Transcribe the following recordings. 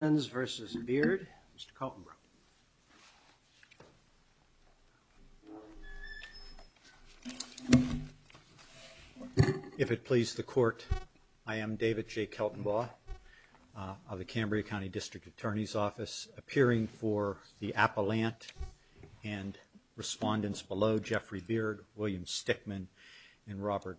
Is Fence versus beard mr. Kauffman If it please the court I am David J Kelton law of the Cambria County District Attorney's Office appearing for the appellant and respondents below Jeffrey Beard William Stickman and Robert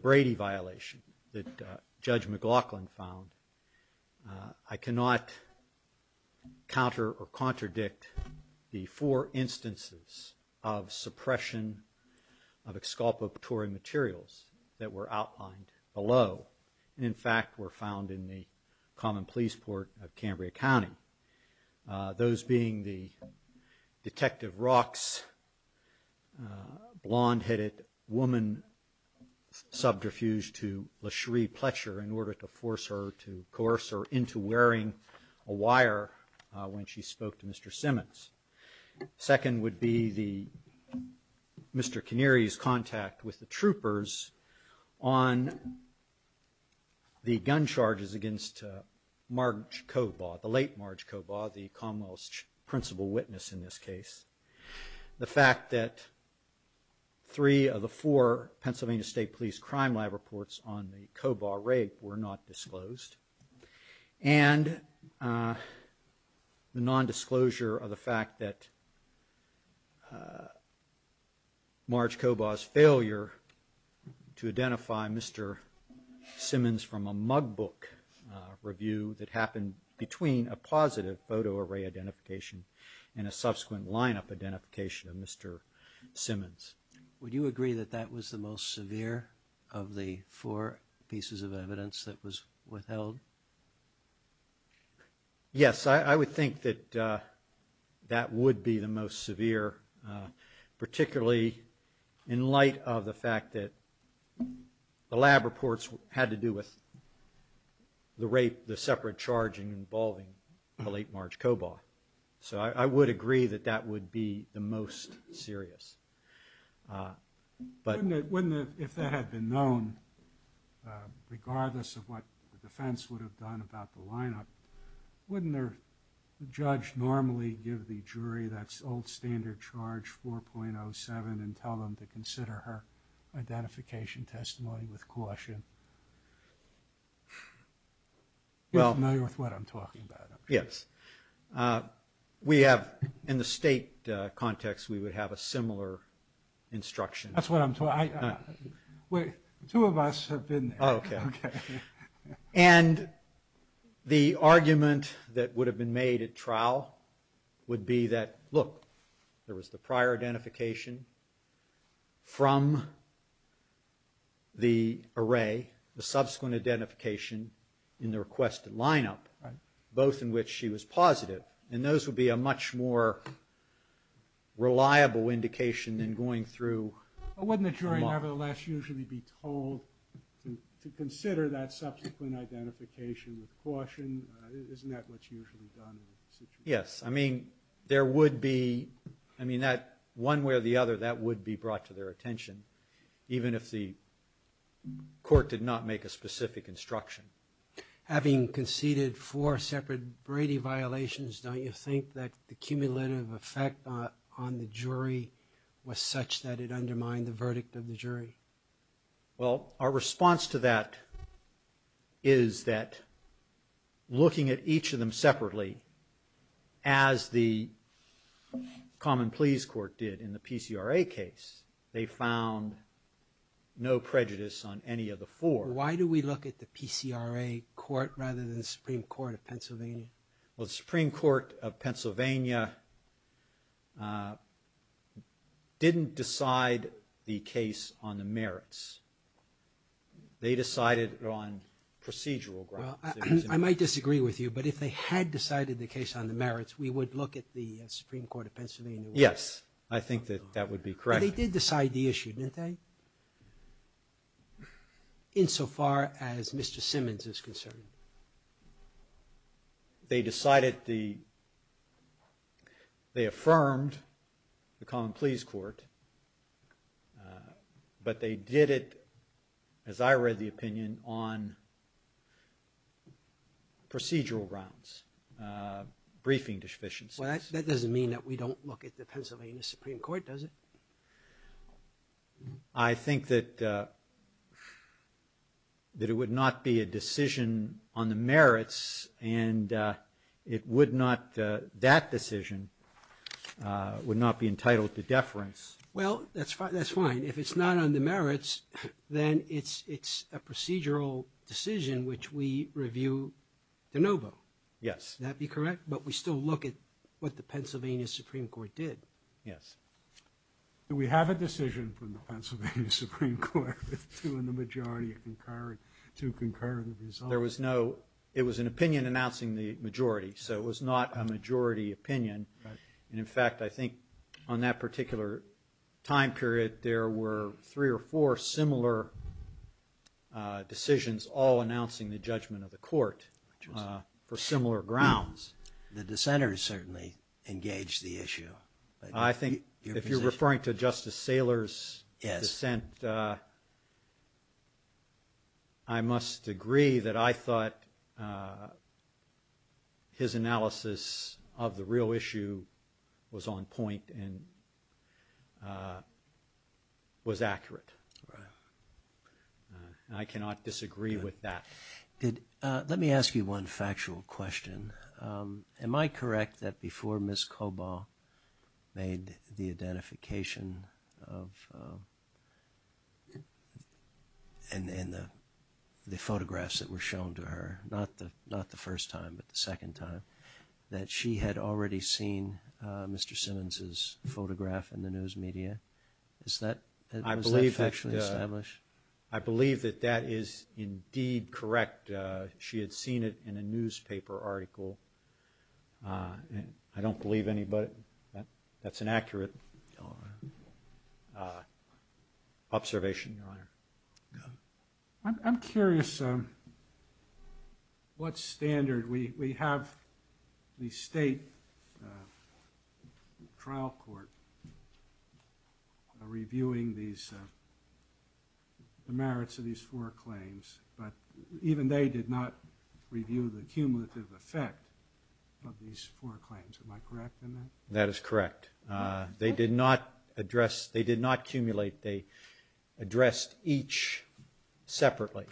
Brady violation that Judge McLaughlin found. I cannot counter or contradict the four instances of suppression of exculpatory materials that were outlined below and in fact were found in the common police port of Cambria County. Those being the detective rocks blonde headed woman subterfuge to Lashree Pletcher in order to force her to coerce her into wearing a wire when she spoke to Mr. Simmons. Second would be the Mr. Canary's contact with the troopers on the gun charges against Marge Cobar the late Marge Cobar the Commonwealth's principal witness in this case. The fact that three of the four Pennsylvania State Police crime lab reports on the Cobar rape were not disclosed and the non-disclosure of the fact that Marge Cobar's failure to identify Mr. Simmons from a mug book review that happened between a positive photo array identification and a subsequent lineup identification of Mr. Simmons. Would you agree that that was the most severe of the four pieces of evidence that was withheld? Yes I would think that that would be the most severe particularly in light of the fact that the lab reports had to do with the rape the I would agree that that would be the most serious. If that had been known regardless of what the defense would have done about the lineup wouldn't the judge normally give the jury that's old standard charge 4.07 and tell them to consider her identification testimony with caution? You're familiar with what I'm talking about. Yes we have in the state context we would have a similar instruction. That's what I'm talking about. Two of us have been there. And the argument that would have been subsequent identification in the requested lineup both in which she was positive and those would be a much more reliable indication than going through. Wouldn't the jury nevertheless usually be told to consider that subsequent identification with caution? Isn't that what's usually done? Yes I mean there would be I mean that one way or the other that would be brought to their attention even if the court did not make a specific instruction. Having conceded four separate Brady violations don't you think that the cumulative effect on the jury was such that it undermined the verdict of the jury? Well our response to that is that looking at each of them separately as the common pleas court did in the PCRA case they found no prejudice on any of the four. Why do we look at the PCRA court rather than the Supreme Court of Pennsylvania didn't decide the case on the merits. They decided on procedural grounds. I might disagree with you but if they had decided the case on the merits we would look at the Supreme Court of Pennsylvania. Yes I think that that would be correct. They did decide the issue didn't they? Insofar as Mr. Simmons is concerned. They decided the they affirmed the common pleas court but they did it as I read the opinion on procedural grounds briefing deficiencies. That doesn't mean that we that it would not be a decision on the merits and it would not that decision would not be entitled to deference. Well that's fine that's fine if it's not on the merits then it's it's a procedural decision which we review de novo. Yes. That be correct but we still look at what the Pennsylvania Supreme Court with two in the majority concurred to concur the result. There was no it was an opinion announcing the majority so it was not a majority opinion and in fact I think on that particular time period there were three or four similar decisions all announcing the judgment of the court for similar grounds. The dissenters certainly engaged the issue. I think if you're I must agree that I thought his analysis of the real issue was on point and was accurate. I cannot disagree with that. Good. Let me ask you one factual question. Am I correct that before Ms. and in the the photographs that were shown to her not the not the first time but the second time that she had already seen Mr. Simmons's photograph in the news media is that I believe actually established? I believe that that is indeed correct. She had seen it in a newspaper article and I don't believe anybody that that's an accurate observation. I'm curious what standard we have the state trial court reviewing these the merits of these four claims but even they did not review the cumulative effect of these four claims. Am I correct in that? That is correct. They did not address they did not cumulate they addressed each separately.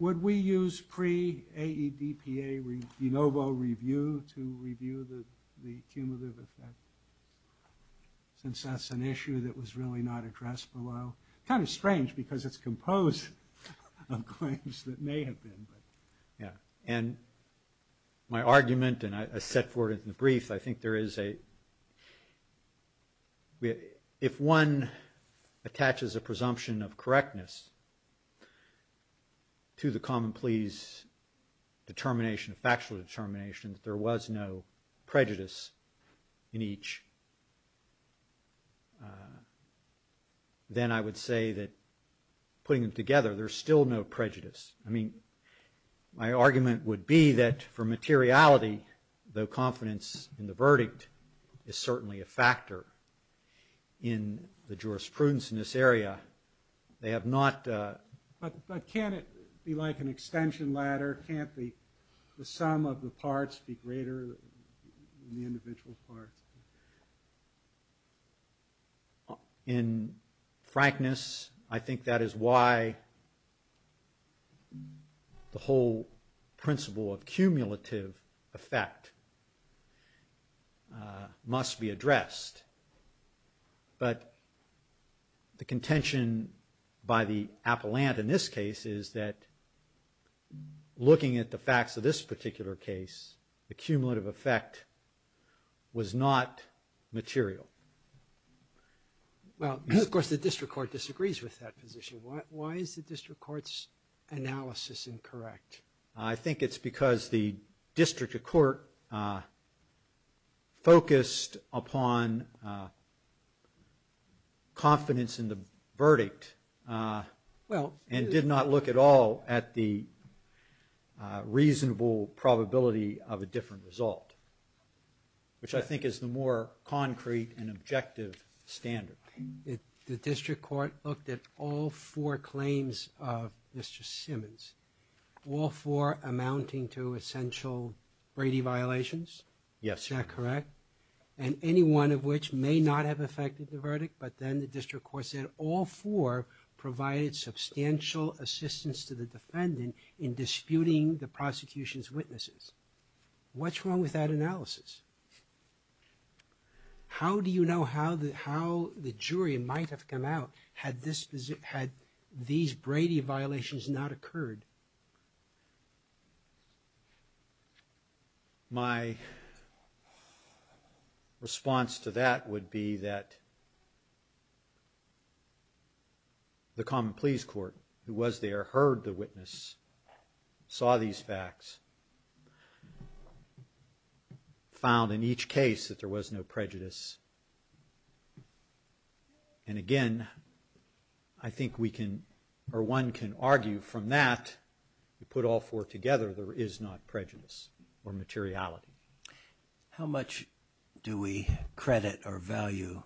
Would we use pre-AEDPA renovo review to review the the cumulative effect since that's an issue that was really not my argument and I set forward in the brief I think there is a if one attaches a presumption of correctness to the common pleas determination factual determination that there was no prejudice in each then I would say that putting them together there's still no prejudice. I mean my would be that for materiality though confidence in the verdict is certainly a factor in the jurisprudence in this area they have not. But can't it be like an extension ladder can't the sum of the of cumulative effect must be addressed but the contention by the appellant in this case is that looking at the facts of this particular case the cumulative effect was not material. Well of course the district court disagrees with that position. Why is the district courts analysis incorrect? I think it's because the district of court focused upon confidence in the verdict well and did not look at all at the reasonable probability of a different result which I think is the more concrete and objective standard. The district court looked at all four claims of Mr. Simmons all four amounting to essential Brady violations? Yes. Is that correct? And any one of which may not have affected the verdict but then the district court said all four provided substantial assistance to the defendant in disputing the prosecution's witnesses. What's wrong with that analysis? How do you know how the how the jury might have come out had this visit had these Brady violations not occurred? My response to that would be that the common pleas court who was there heard the witness saw these facts found in each case that there was no prejudice and again I think we can or one can put all four together there is not prejudice or materiality. How much do we credit or value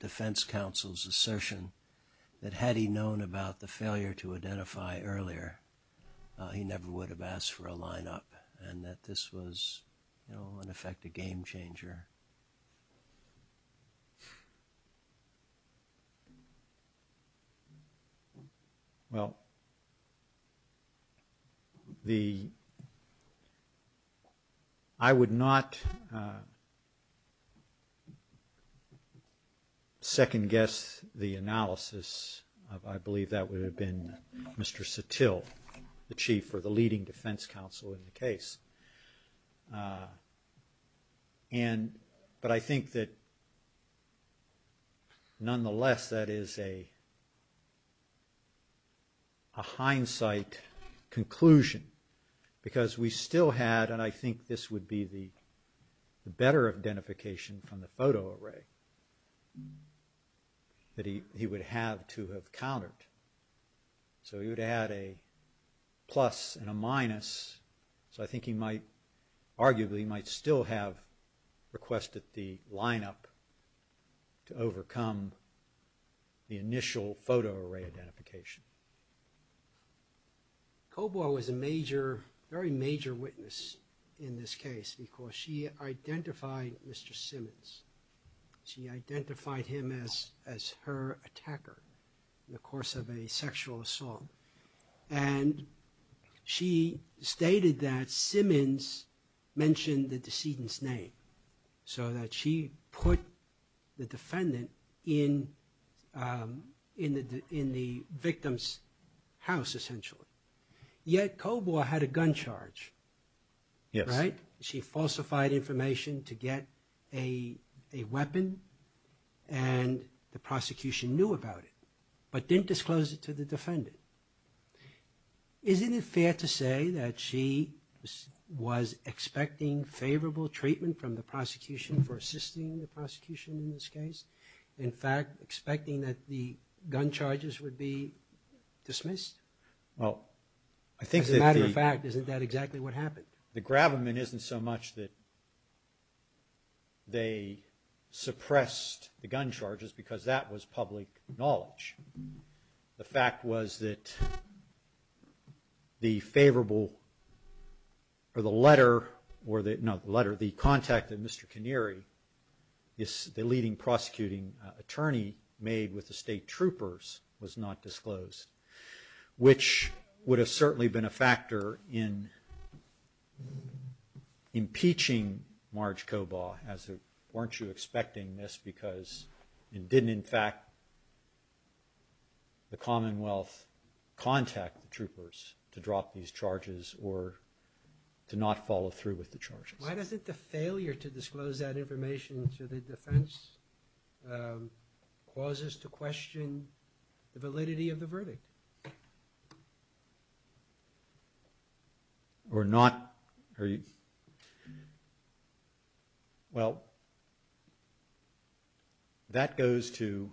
defense counsel's assertion that had he known about the failure to identify earlier he never would have asked for a lineup and that this was you know in effect a game changer? Well, the I would not second-guess the analysis I believe that would have been Mr. Satill the leading defense counsel in the case and but I think that nonetheless that is a hindsight conclusion because we still had and I think this would be the better identification from the photo array that he would have to have countered so he would add a plus and a minus so I think he might arguably might still have requested the lineup to overcome the initial photo array identification. Cobo was a major very major witness in this case because she identified Mr. Simmons she identified him as as her attacker in the course of a sexual assault and she stated that Simmons mentioned the decedent's name so that she put the defendant in in the in the victim's house essentially yet Cobo had a gun charge. Yes. Right? She falsified information to get a weapon and the prosecution knew about it but didn't disclose it to the defendant. Isn't it fair to say that she was expecting favorable treatment from the prosecution for assisting the prosecution in this case in fact expecting that the gun charges would be dismissed? Well I think as a matter of fact isn't that exactly what happened? The grabberment isn't so much that they suppressed the gun charges because that was public knowledge. The fact was that the favorable or the letter or that no letter the contact that Mr. Kinneary is the leading prosecuting attorney made with the state troopers was not disclosed which would have certainly been a factor in impeaching Marge Cobo as a weren't you expecting this because it didn't in fact the Commonwealth contact the troopers to drop these charges or to not follow through with the charges. Why doesn't the failure to disclose that information to the defense causes to question the validity of the verdict? Or not are you Well that goes to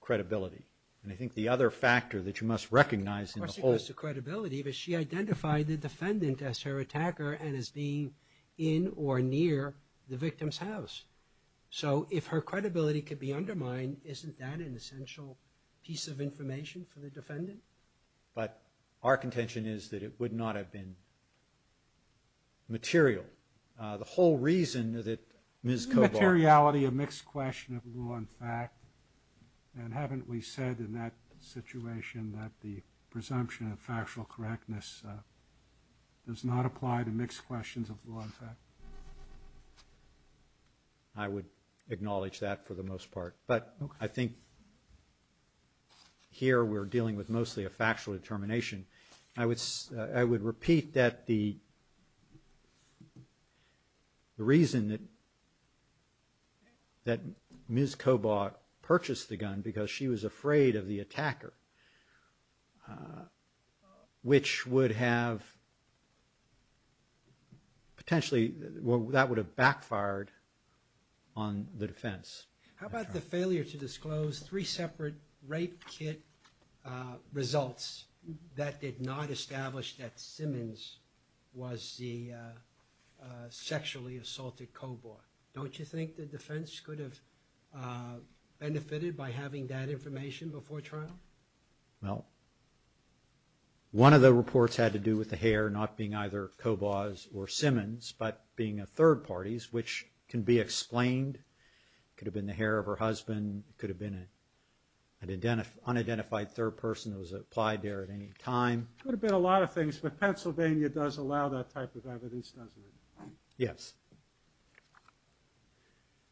credibility and I think the other factor that you must recognize in the whole credibility but she identified the defendant as her attacker and as being in or near the victim's house. So if her credibility could be undermined isn't that an essential piece of information for the defendant but our contention is that it would not have been material. The whole reason that Ms. Cobo. Isn't materiality a mixed question of law and fact and haven't we said in that situation that the presumption of factual correctness does not apply to mixed questions of law and fact? I would with mostly a factual determination. I would I would repeat that the reason that that Ms. Cobo purchased the gun because she was afraid of the attacker which would have potentially well that would have backfired on the defense. How about the failure to disclose three separate rape kit results that did not establish that Simmons was the sexually assaulted Cobo. Don't you think the defense could have benefited by having that information before trial? Well one of the reports had to do with the hair not being either Cobo's or Simmons but being a third parties which can be third person that was applied there at any time. Could have been a lot of things but Pennsylvania does allow that type of evidence doesn't it? Yes.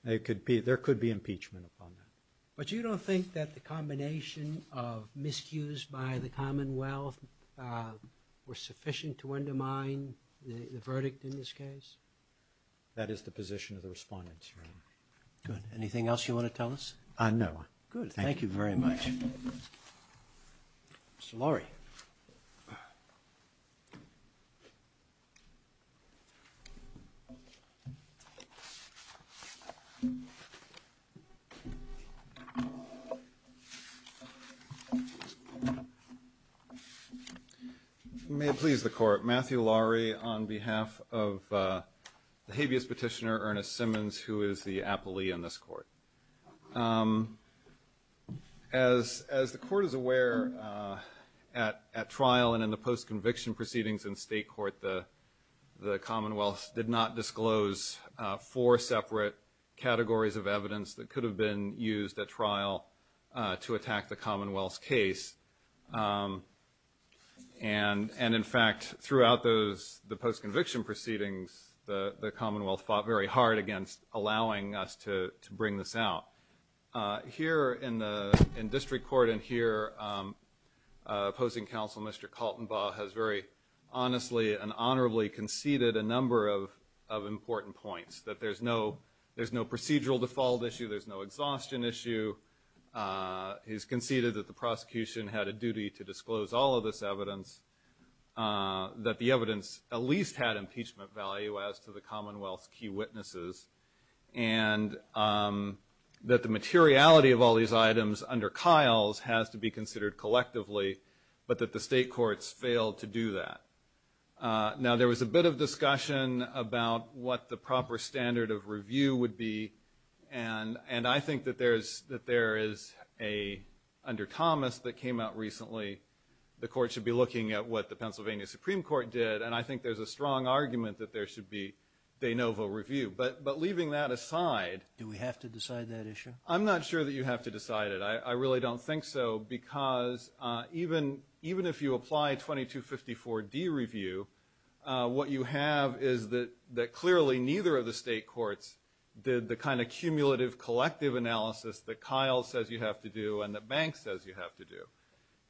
It could be there could be impeachment upon that. But you don't think that the combination of miscues by the Commonwealth were sufficient to undermine the verdict in this case? That is the position of the respondents. Good. Anything else you want to tell us? No. Good. Thank you very much. Mr. Laurie. May it please the court. Matthew Laurie on behalf of the habeas petitioner Ernest Simmons who is the appellee in this court. As the court is aware at trial and in the post-conviction proceedings in state court the Commonwealth did not disclose four separate categories of evidence that could have been used at trial to attack the Commonwealth's case. And in fact throughout those the Commonwealth fought very hard against allowing us to bring this out. Here in the in district court and here opposing counsel Mr. Kaltenbaugh has very honestly and honorably conceded a number of of important points that there's no there's no procedural default issue there's no exhaustion issue. He's conceded that the prosecution had a duty to disclose all of this evidence that the Commonwealth's key witnesses and that the materiality of all these items under Kyle's has to be considered collectively but that the state courts failed to do that. Now there was a bit of discussion about what the proper standard of review would be and and I think that there's that there is a under Thomas that came out recently the court should be looking at what the Pennsylvania Supreme Court did and I think there's a strong argument that there should be de novo review but but leaving that aside. Do we have to decide that issue? I'm not sure that you have to decide it I really don't think so because even even if you apply 2254 D review what you have is that that clearly neither of the state courts did the kind of cumulative collective analysis that Kyle says you have to and the bank says you have to do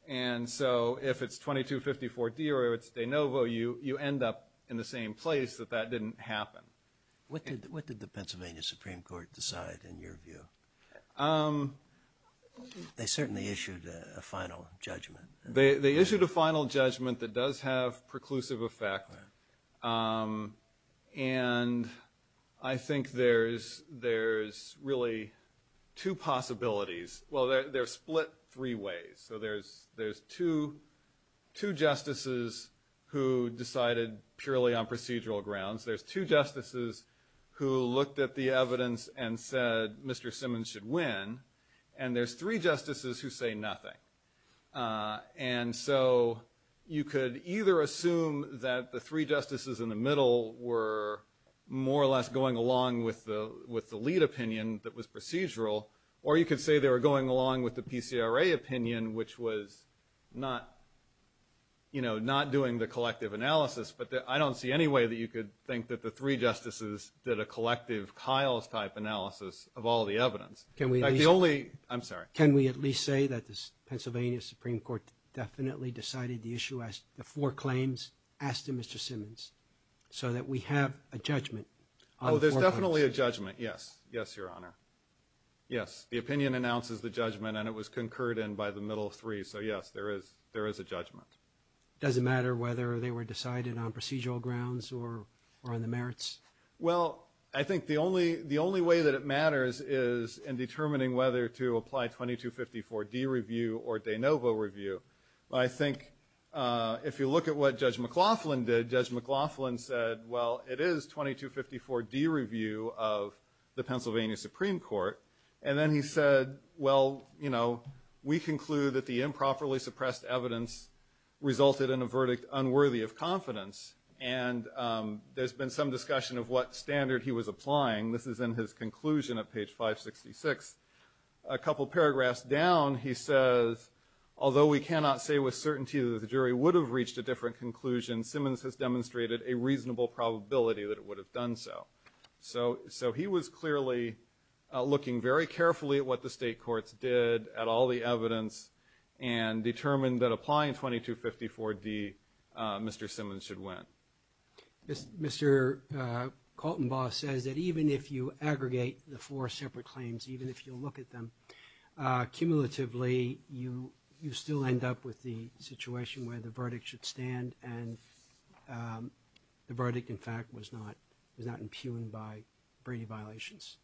and so if it's 2254 D or it's de novo you you end up in the same place that that didn't happen. What did the Pennsylvania Supreme Court decide in your view? They certainly issued a final judgment. They issued a final judgment that does have preclusive effect and I think there's there's really two possibilities well they're split three ways so there's there's two two justices who decided purely on procedural grounds there's two justices who looked at the evidence and said Mr. Simmons should win and there's three justices who say nothing and so you could either assume that the three justices in the middle were more or less going along with the with the lead opinion that was procedural or you could say they were going along with the PCRA opinion which was not you know not doing the collective analysis but I don't see any way that you could think that the three justices did a collective Kyle's type analysis of all the evidence. Can we only I'm sorry can we at least say that this Pennsylvania Supreme Court definitely decided the issue as the four claims asked him Mr. Simmons so that we have a judgment. Oh there's definitely a judgment yes yes your honor yes the opinion announces the judgment and it was concurred in by the middle of three so yes there is there is a judgment. Does it matter whether they were decided on procedural grounds or or on the merits? Well I think the only the only way that it matters is in determining whether to apply 2254 D review or de novo review. I think if you look at what Judge McLaughlin did Judge McLaughlin said well it is 2254 D review of the Pennsylvania Supreme Court and then he said well you know we conclude that the improperly suppressed evidence resulted in a verdict unworthy of confidence and there's been some discussion of what standard he was 566. A couple paragraphs down he says although we cannot say with certainty that the jury would have reached a different conclusion Simmons has demonstrated a reasonable probability that it would have done so. So so he was clearly looking very carefully at what the state courts did at all the evidence and determined that applying 2254 D Mr. Simmons should win. Yes Mr. Kaltenbaugh says that even if you aggregate the four separate claims even if you look at them cumulatively you you still end up with the situation where the verdict should stand and the verdict in fact was not was not impugned by Brady violations.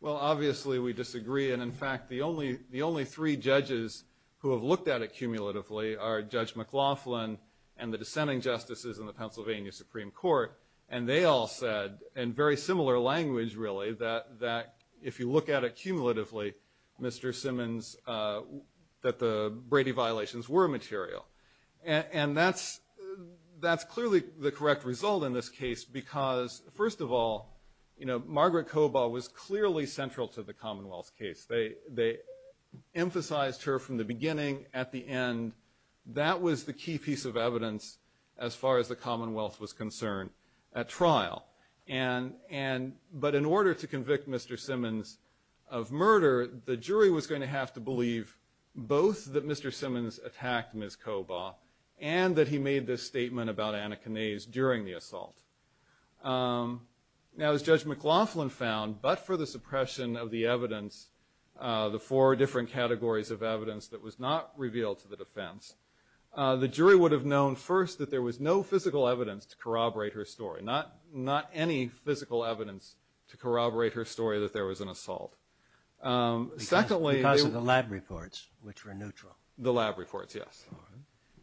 Well obviously we disagree and in fact the only the only three judges who have looked at it cumulatively are Judge McLaughlin and the dissenting justices in the Pennsylvania Supreme Court and they all said in very similar language really that that if you look at it cumulatively Mr. Simmons that the Brady violations were material and that's that's clearly the correct result in this case because first of all you know Margaret Cobol was clearly central to the Commonwealth's case. They they were a key piece of evidence as far as the Commonwealth was concerned at trial and and but in order to convict Mr. Simmons of murder the jury was going to have to believe both that Mr. Simmons attacked Ms. Cobol and that he made this statement about anakinase during the assault. Now as Judge McLaughlin found but for the suppression of the evidence the four different categories of evidence that was not revealed to the defense the jury would have known first that there was no physical evidence to corroborate her story not not any physical evidence to corroborate her story that there was an assault. Secondly because of the lab reports which were neutral the lab reports yes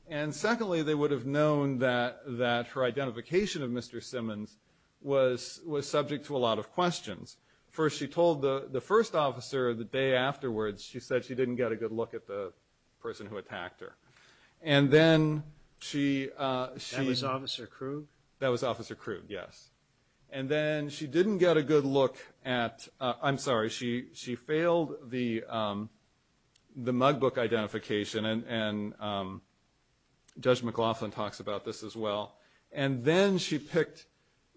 and secondly they would have known that that her identification of Mr. Simmons was was subject to a lot of questions. First she told the the first officer the day afterwards she said she didn't get a good look at the person who attacked her and then she uh she was officer Krug that was officer Krug yes and then she didn't get a good look at I'm sorry she she failed the um the mug book identification and and um Judge McLaughlin talks about this as well and then she picked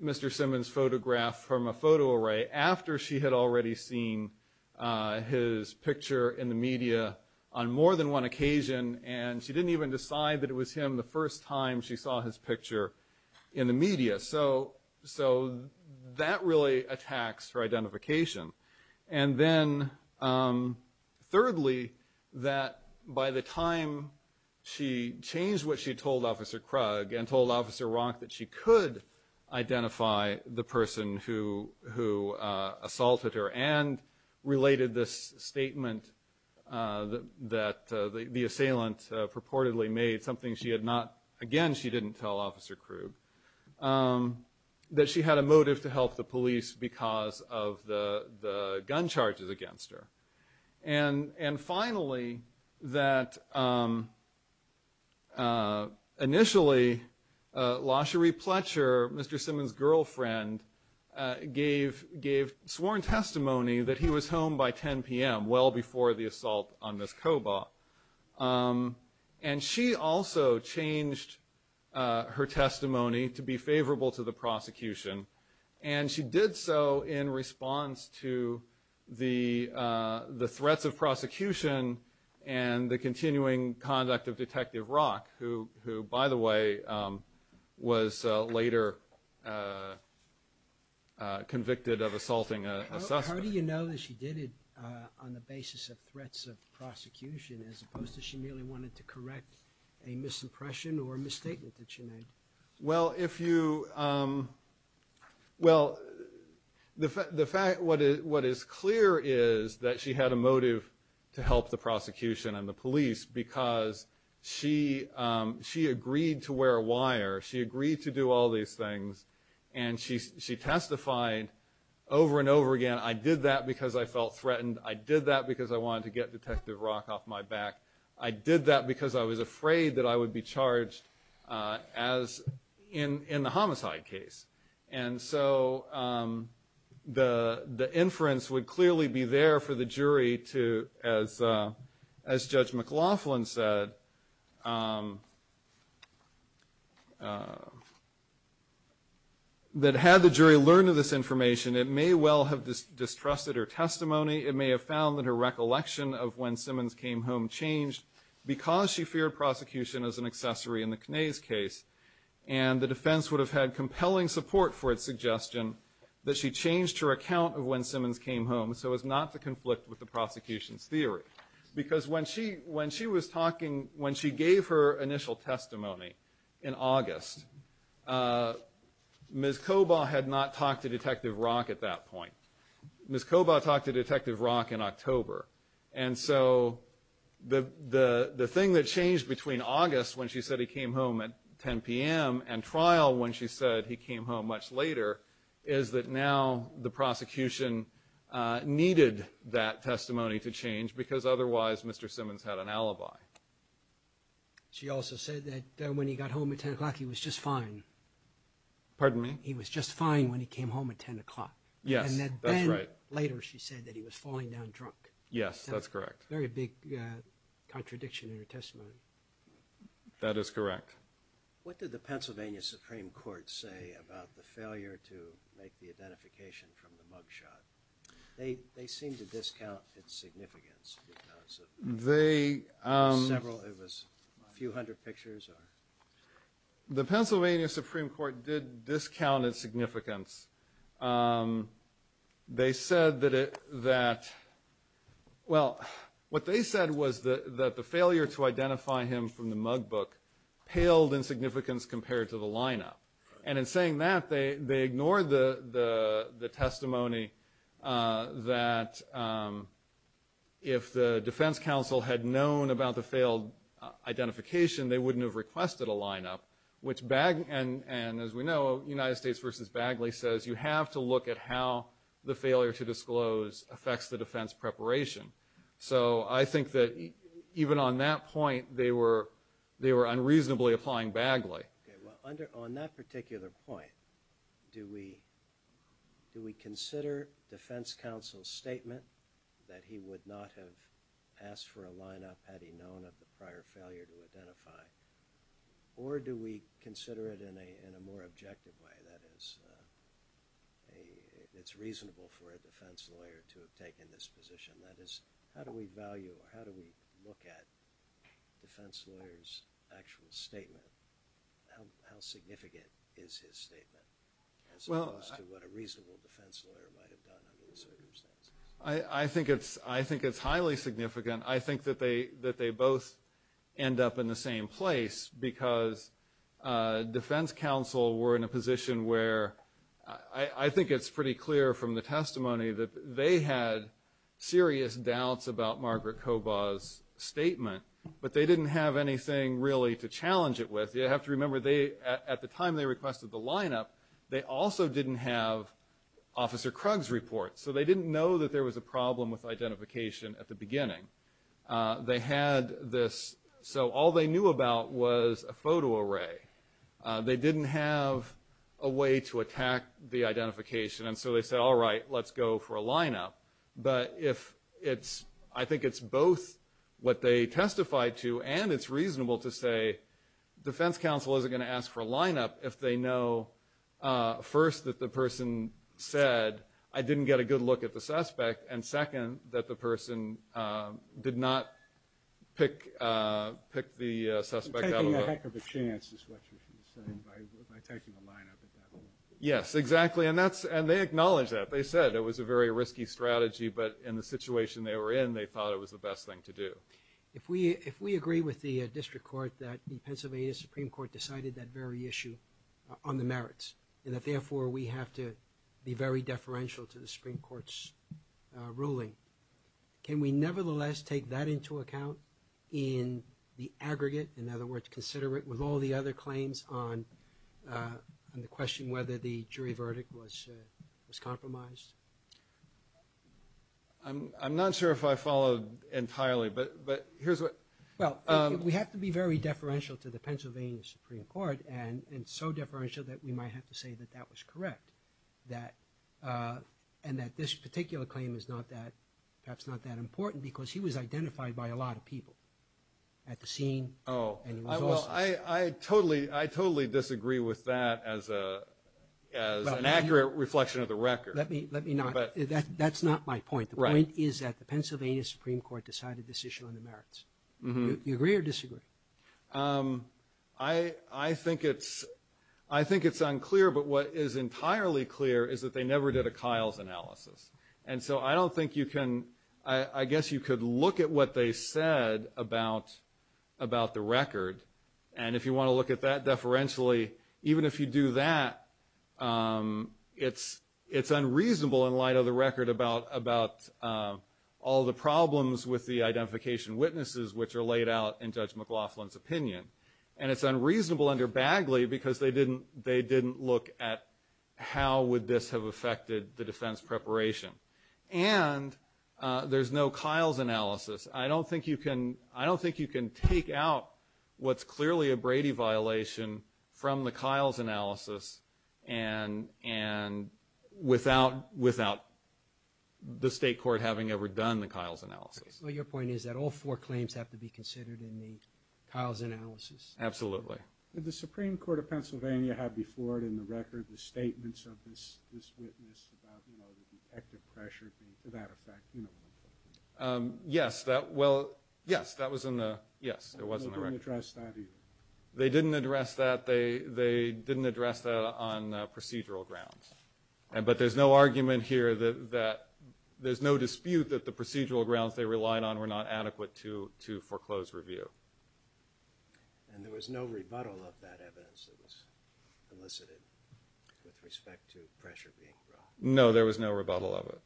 Mr. Simmons photograph from a photo array after she had already seen uh his picture in the media on more than one occasion and she didn't even decide that it was him the first time she saw his picture in the media so so that really attacks her identification and then um thirdly that by the time she changed what she who uh assaulted her and related this statement uh that the the assailant purportedly made something she had not again she didn't tell officer Krug that she had a motive to help the police because of the the gun charges against her and and finally that um uh initially uh Lachery Pletcher, Mr. Simmons' girlfriend, gave gave sworn testimony that he was home by 10 p.m. well before the assault on Miss Koba and she also changed her testimony to be favorable to the prosecution and she did so in response to the uh the threats of prosecution and the continuing conduct of Detective Rock who who by the way um was later convicted of assaulting a suspect. How do you know that she did it uh on the basis of threats of prosecution as opposed to she merely wanted to correct a misimpression or a misstatement that she to help the prosecution and the police because she um she agreed to wear a wire she agreed to do all these things and she she testified over and over again I did that because I felt threatened I did that because I wanted to get Detective Rock off my back I did that because I was afraid that I would be charged uh as in in the homicide case and so um the the inference would clearly be there for the jury to as uh as Judge McLaughlin said um uh that had the jury learned of this information it may well have distrusted her testimony it may have found that her recollection of when Simmons came home changed because she feared prosecution as an accessory in the Knays case and the defense would have had compelling support for its suggestion that she changed her account of when conflict with the prosecution's theory because when she when she was talking when she gave her initial testimony in August uh Ms. Koba had not talked to Detective Rock at that point Ms. Koba talked to Detective Rock in October and so the the the thing that changed between August when she said he came home at 10 p.m. and trial when she said he came home much later is that now the prosecution uh needed that testimony to change because otherwise Mr. Simmons had an alibi. She also said that when he got home at 10 o'clock he was just fine pardon me he was just fine when he came home at 10 o'clock yes that's right later she said that he was falling down drunk yes that's correct very big uh contradiction in her testimony that is correct what did the Pennsylvania Supreme Court say about the failure to make the identification from the mugshot they they seem to discount its significance because of they um several it was a few hundred pictures or the Pennsylvania Supreme Court did discount its significance um they said that it that well what they said was that that the failure to identify him from the mug book paled in significance compared to the lineup and in saying that they they ignored the the the testimony uh that um if the defense counsel had known about the failed identification they wouldn't have requested a lineup which bag and and as we know United versus Bagley says you have to look at how the failure to disclose affects the defense preparation so I think that even on that point they were they were unreasonably applying Bagley okay well under on that particular point do we do we consider defense counsel's statement that he would not have asked for a lineup had he known of the prior failure to identify or do we consider it in a in a more objective way that is a it's reasonable for a defense lawyer to have taken this position that is how do we value or how do we look at defense lawyers actual statement how how significant is his statement well as opposed to what a reasonable defense lawyer might have done under the circumstances I I think it's I think it's highly significant I think that they that they both end up in the same place because uh defense counsel were in a position where I I think it's pretty clear from the testimony that they had serious doubts about Margaret Koba's statement but they didn't have anything really to challenge it with you have to remember they at the time they requested the lineup they also didn't have officer Krug's report so they didn't know that there was a problem with identification at the beginning they had this so all they knew about was a photo array they didn't have a way to attack the identification and so they said all right let's go for a lineup but if it's I think it's both what they testified to and it's reasonable to say defense counsel isn't going to ask for a lineup if they know first that the person said I didn't get a good look at the suspect and second that the person did not pick pick the suspect taking a heck of a chance is what you're saying by taking the lineup at that point yes exactly and that's and they acknowledge that they said it was a very risky strategy but in the situation they were in they thought it was the best thing to do if we if we agree with the district court that the Pennsylvania Supreme Court decided that very issue on the merits and that therefore we have to be very deferential to the Supreme Court's ruling can we nevertheless take that into account in the aggregate in other words consider it with all the other claims on on the question whether the jury verdict was was compromised I'm I'm not sure if I followed entirely but but here's what well we have to be very deferential to the Pennsylvania Supreme Court and and so deferential that we might have to say that that is correct that uh and that this particular claim is not that perhaps not that important because he was identified by a lot of people at the scene oh well I I totally I totally disagree with that as a as an accurate reflection of the record let me let me not but that that's not my point the point is that the Pennsylvania Supreme Court decided this issue on the merits you agree um I I think it's I think it's unclear but what is entirely clear is that they never did a Kyle's analysis and so I don't think you can I I guess you could look at what they said about about the record and if you want to look at that deferentially even if you do that um it's it's unreasonable in light of the record about about um all the problems with the identification witnesses which are laid out in Judge McLaughlin's opinion and it's unreasonable under Bagley because they didn't they didn't look at how would this have affected the defense preparation and uh there's no Kyle's analysis I don't think you can I don't think you can take out what's clearly a Brady violation from the Kyle's analysis and and without without the state court having ever done the Kyle's is that all four claims have to be considered in the Kyle's analysis absolutely did the Supreme Court of Pennsylvania have before it in the record the statements of this this witness about you know the detective pressure being to that effect you know um yes that well yes that was in the yes it wasn't addressed that either they didn't address that they they didn't address that on procedural grounds and but there's no argument here that that there's no dispute that the procedural grounds they relied on were not adequate to to foreclose review and there was no rebuttal of that evidence that was elicited with respect to pressure being brought no there was no rebuttal of it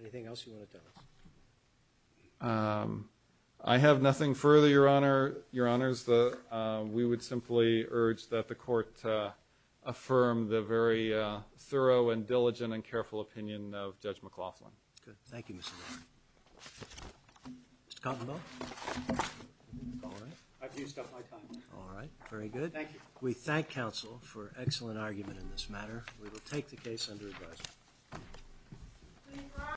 anything else you want to tell us um I have nothing further your honor your honors the uh we would simply urge that the court uh affirm the very uh diligent and careful opinion of Judge McLaughlin good thank you Mr. Cottonball all right I've used up my time all right very good thank you we thank counsel for excellent argument in this matter we will take the case under advisory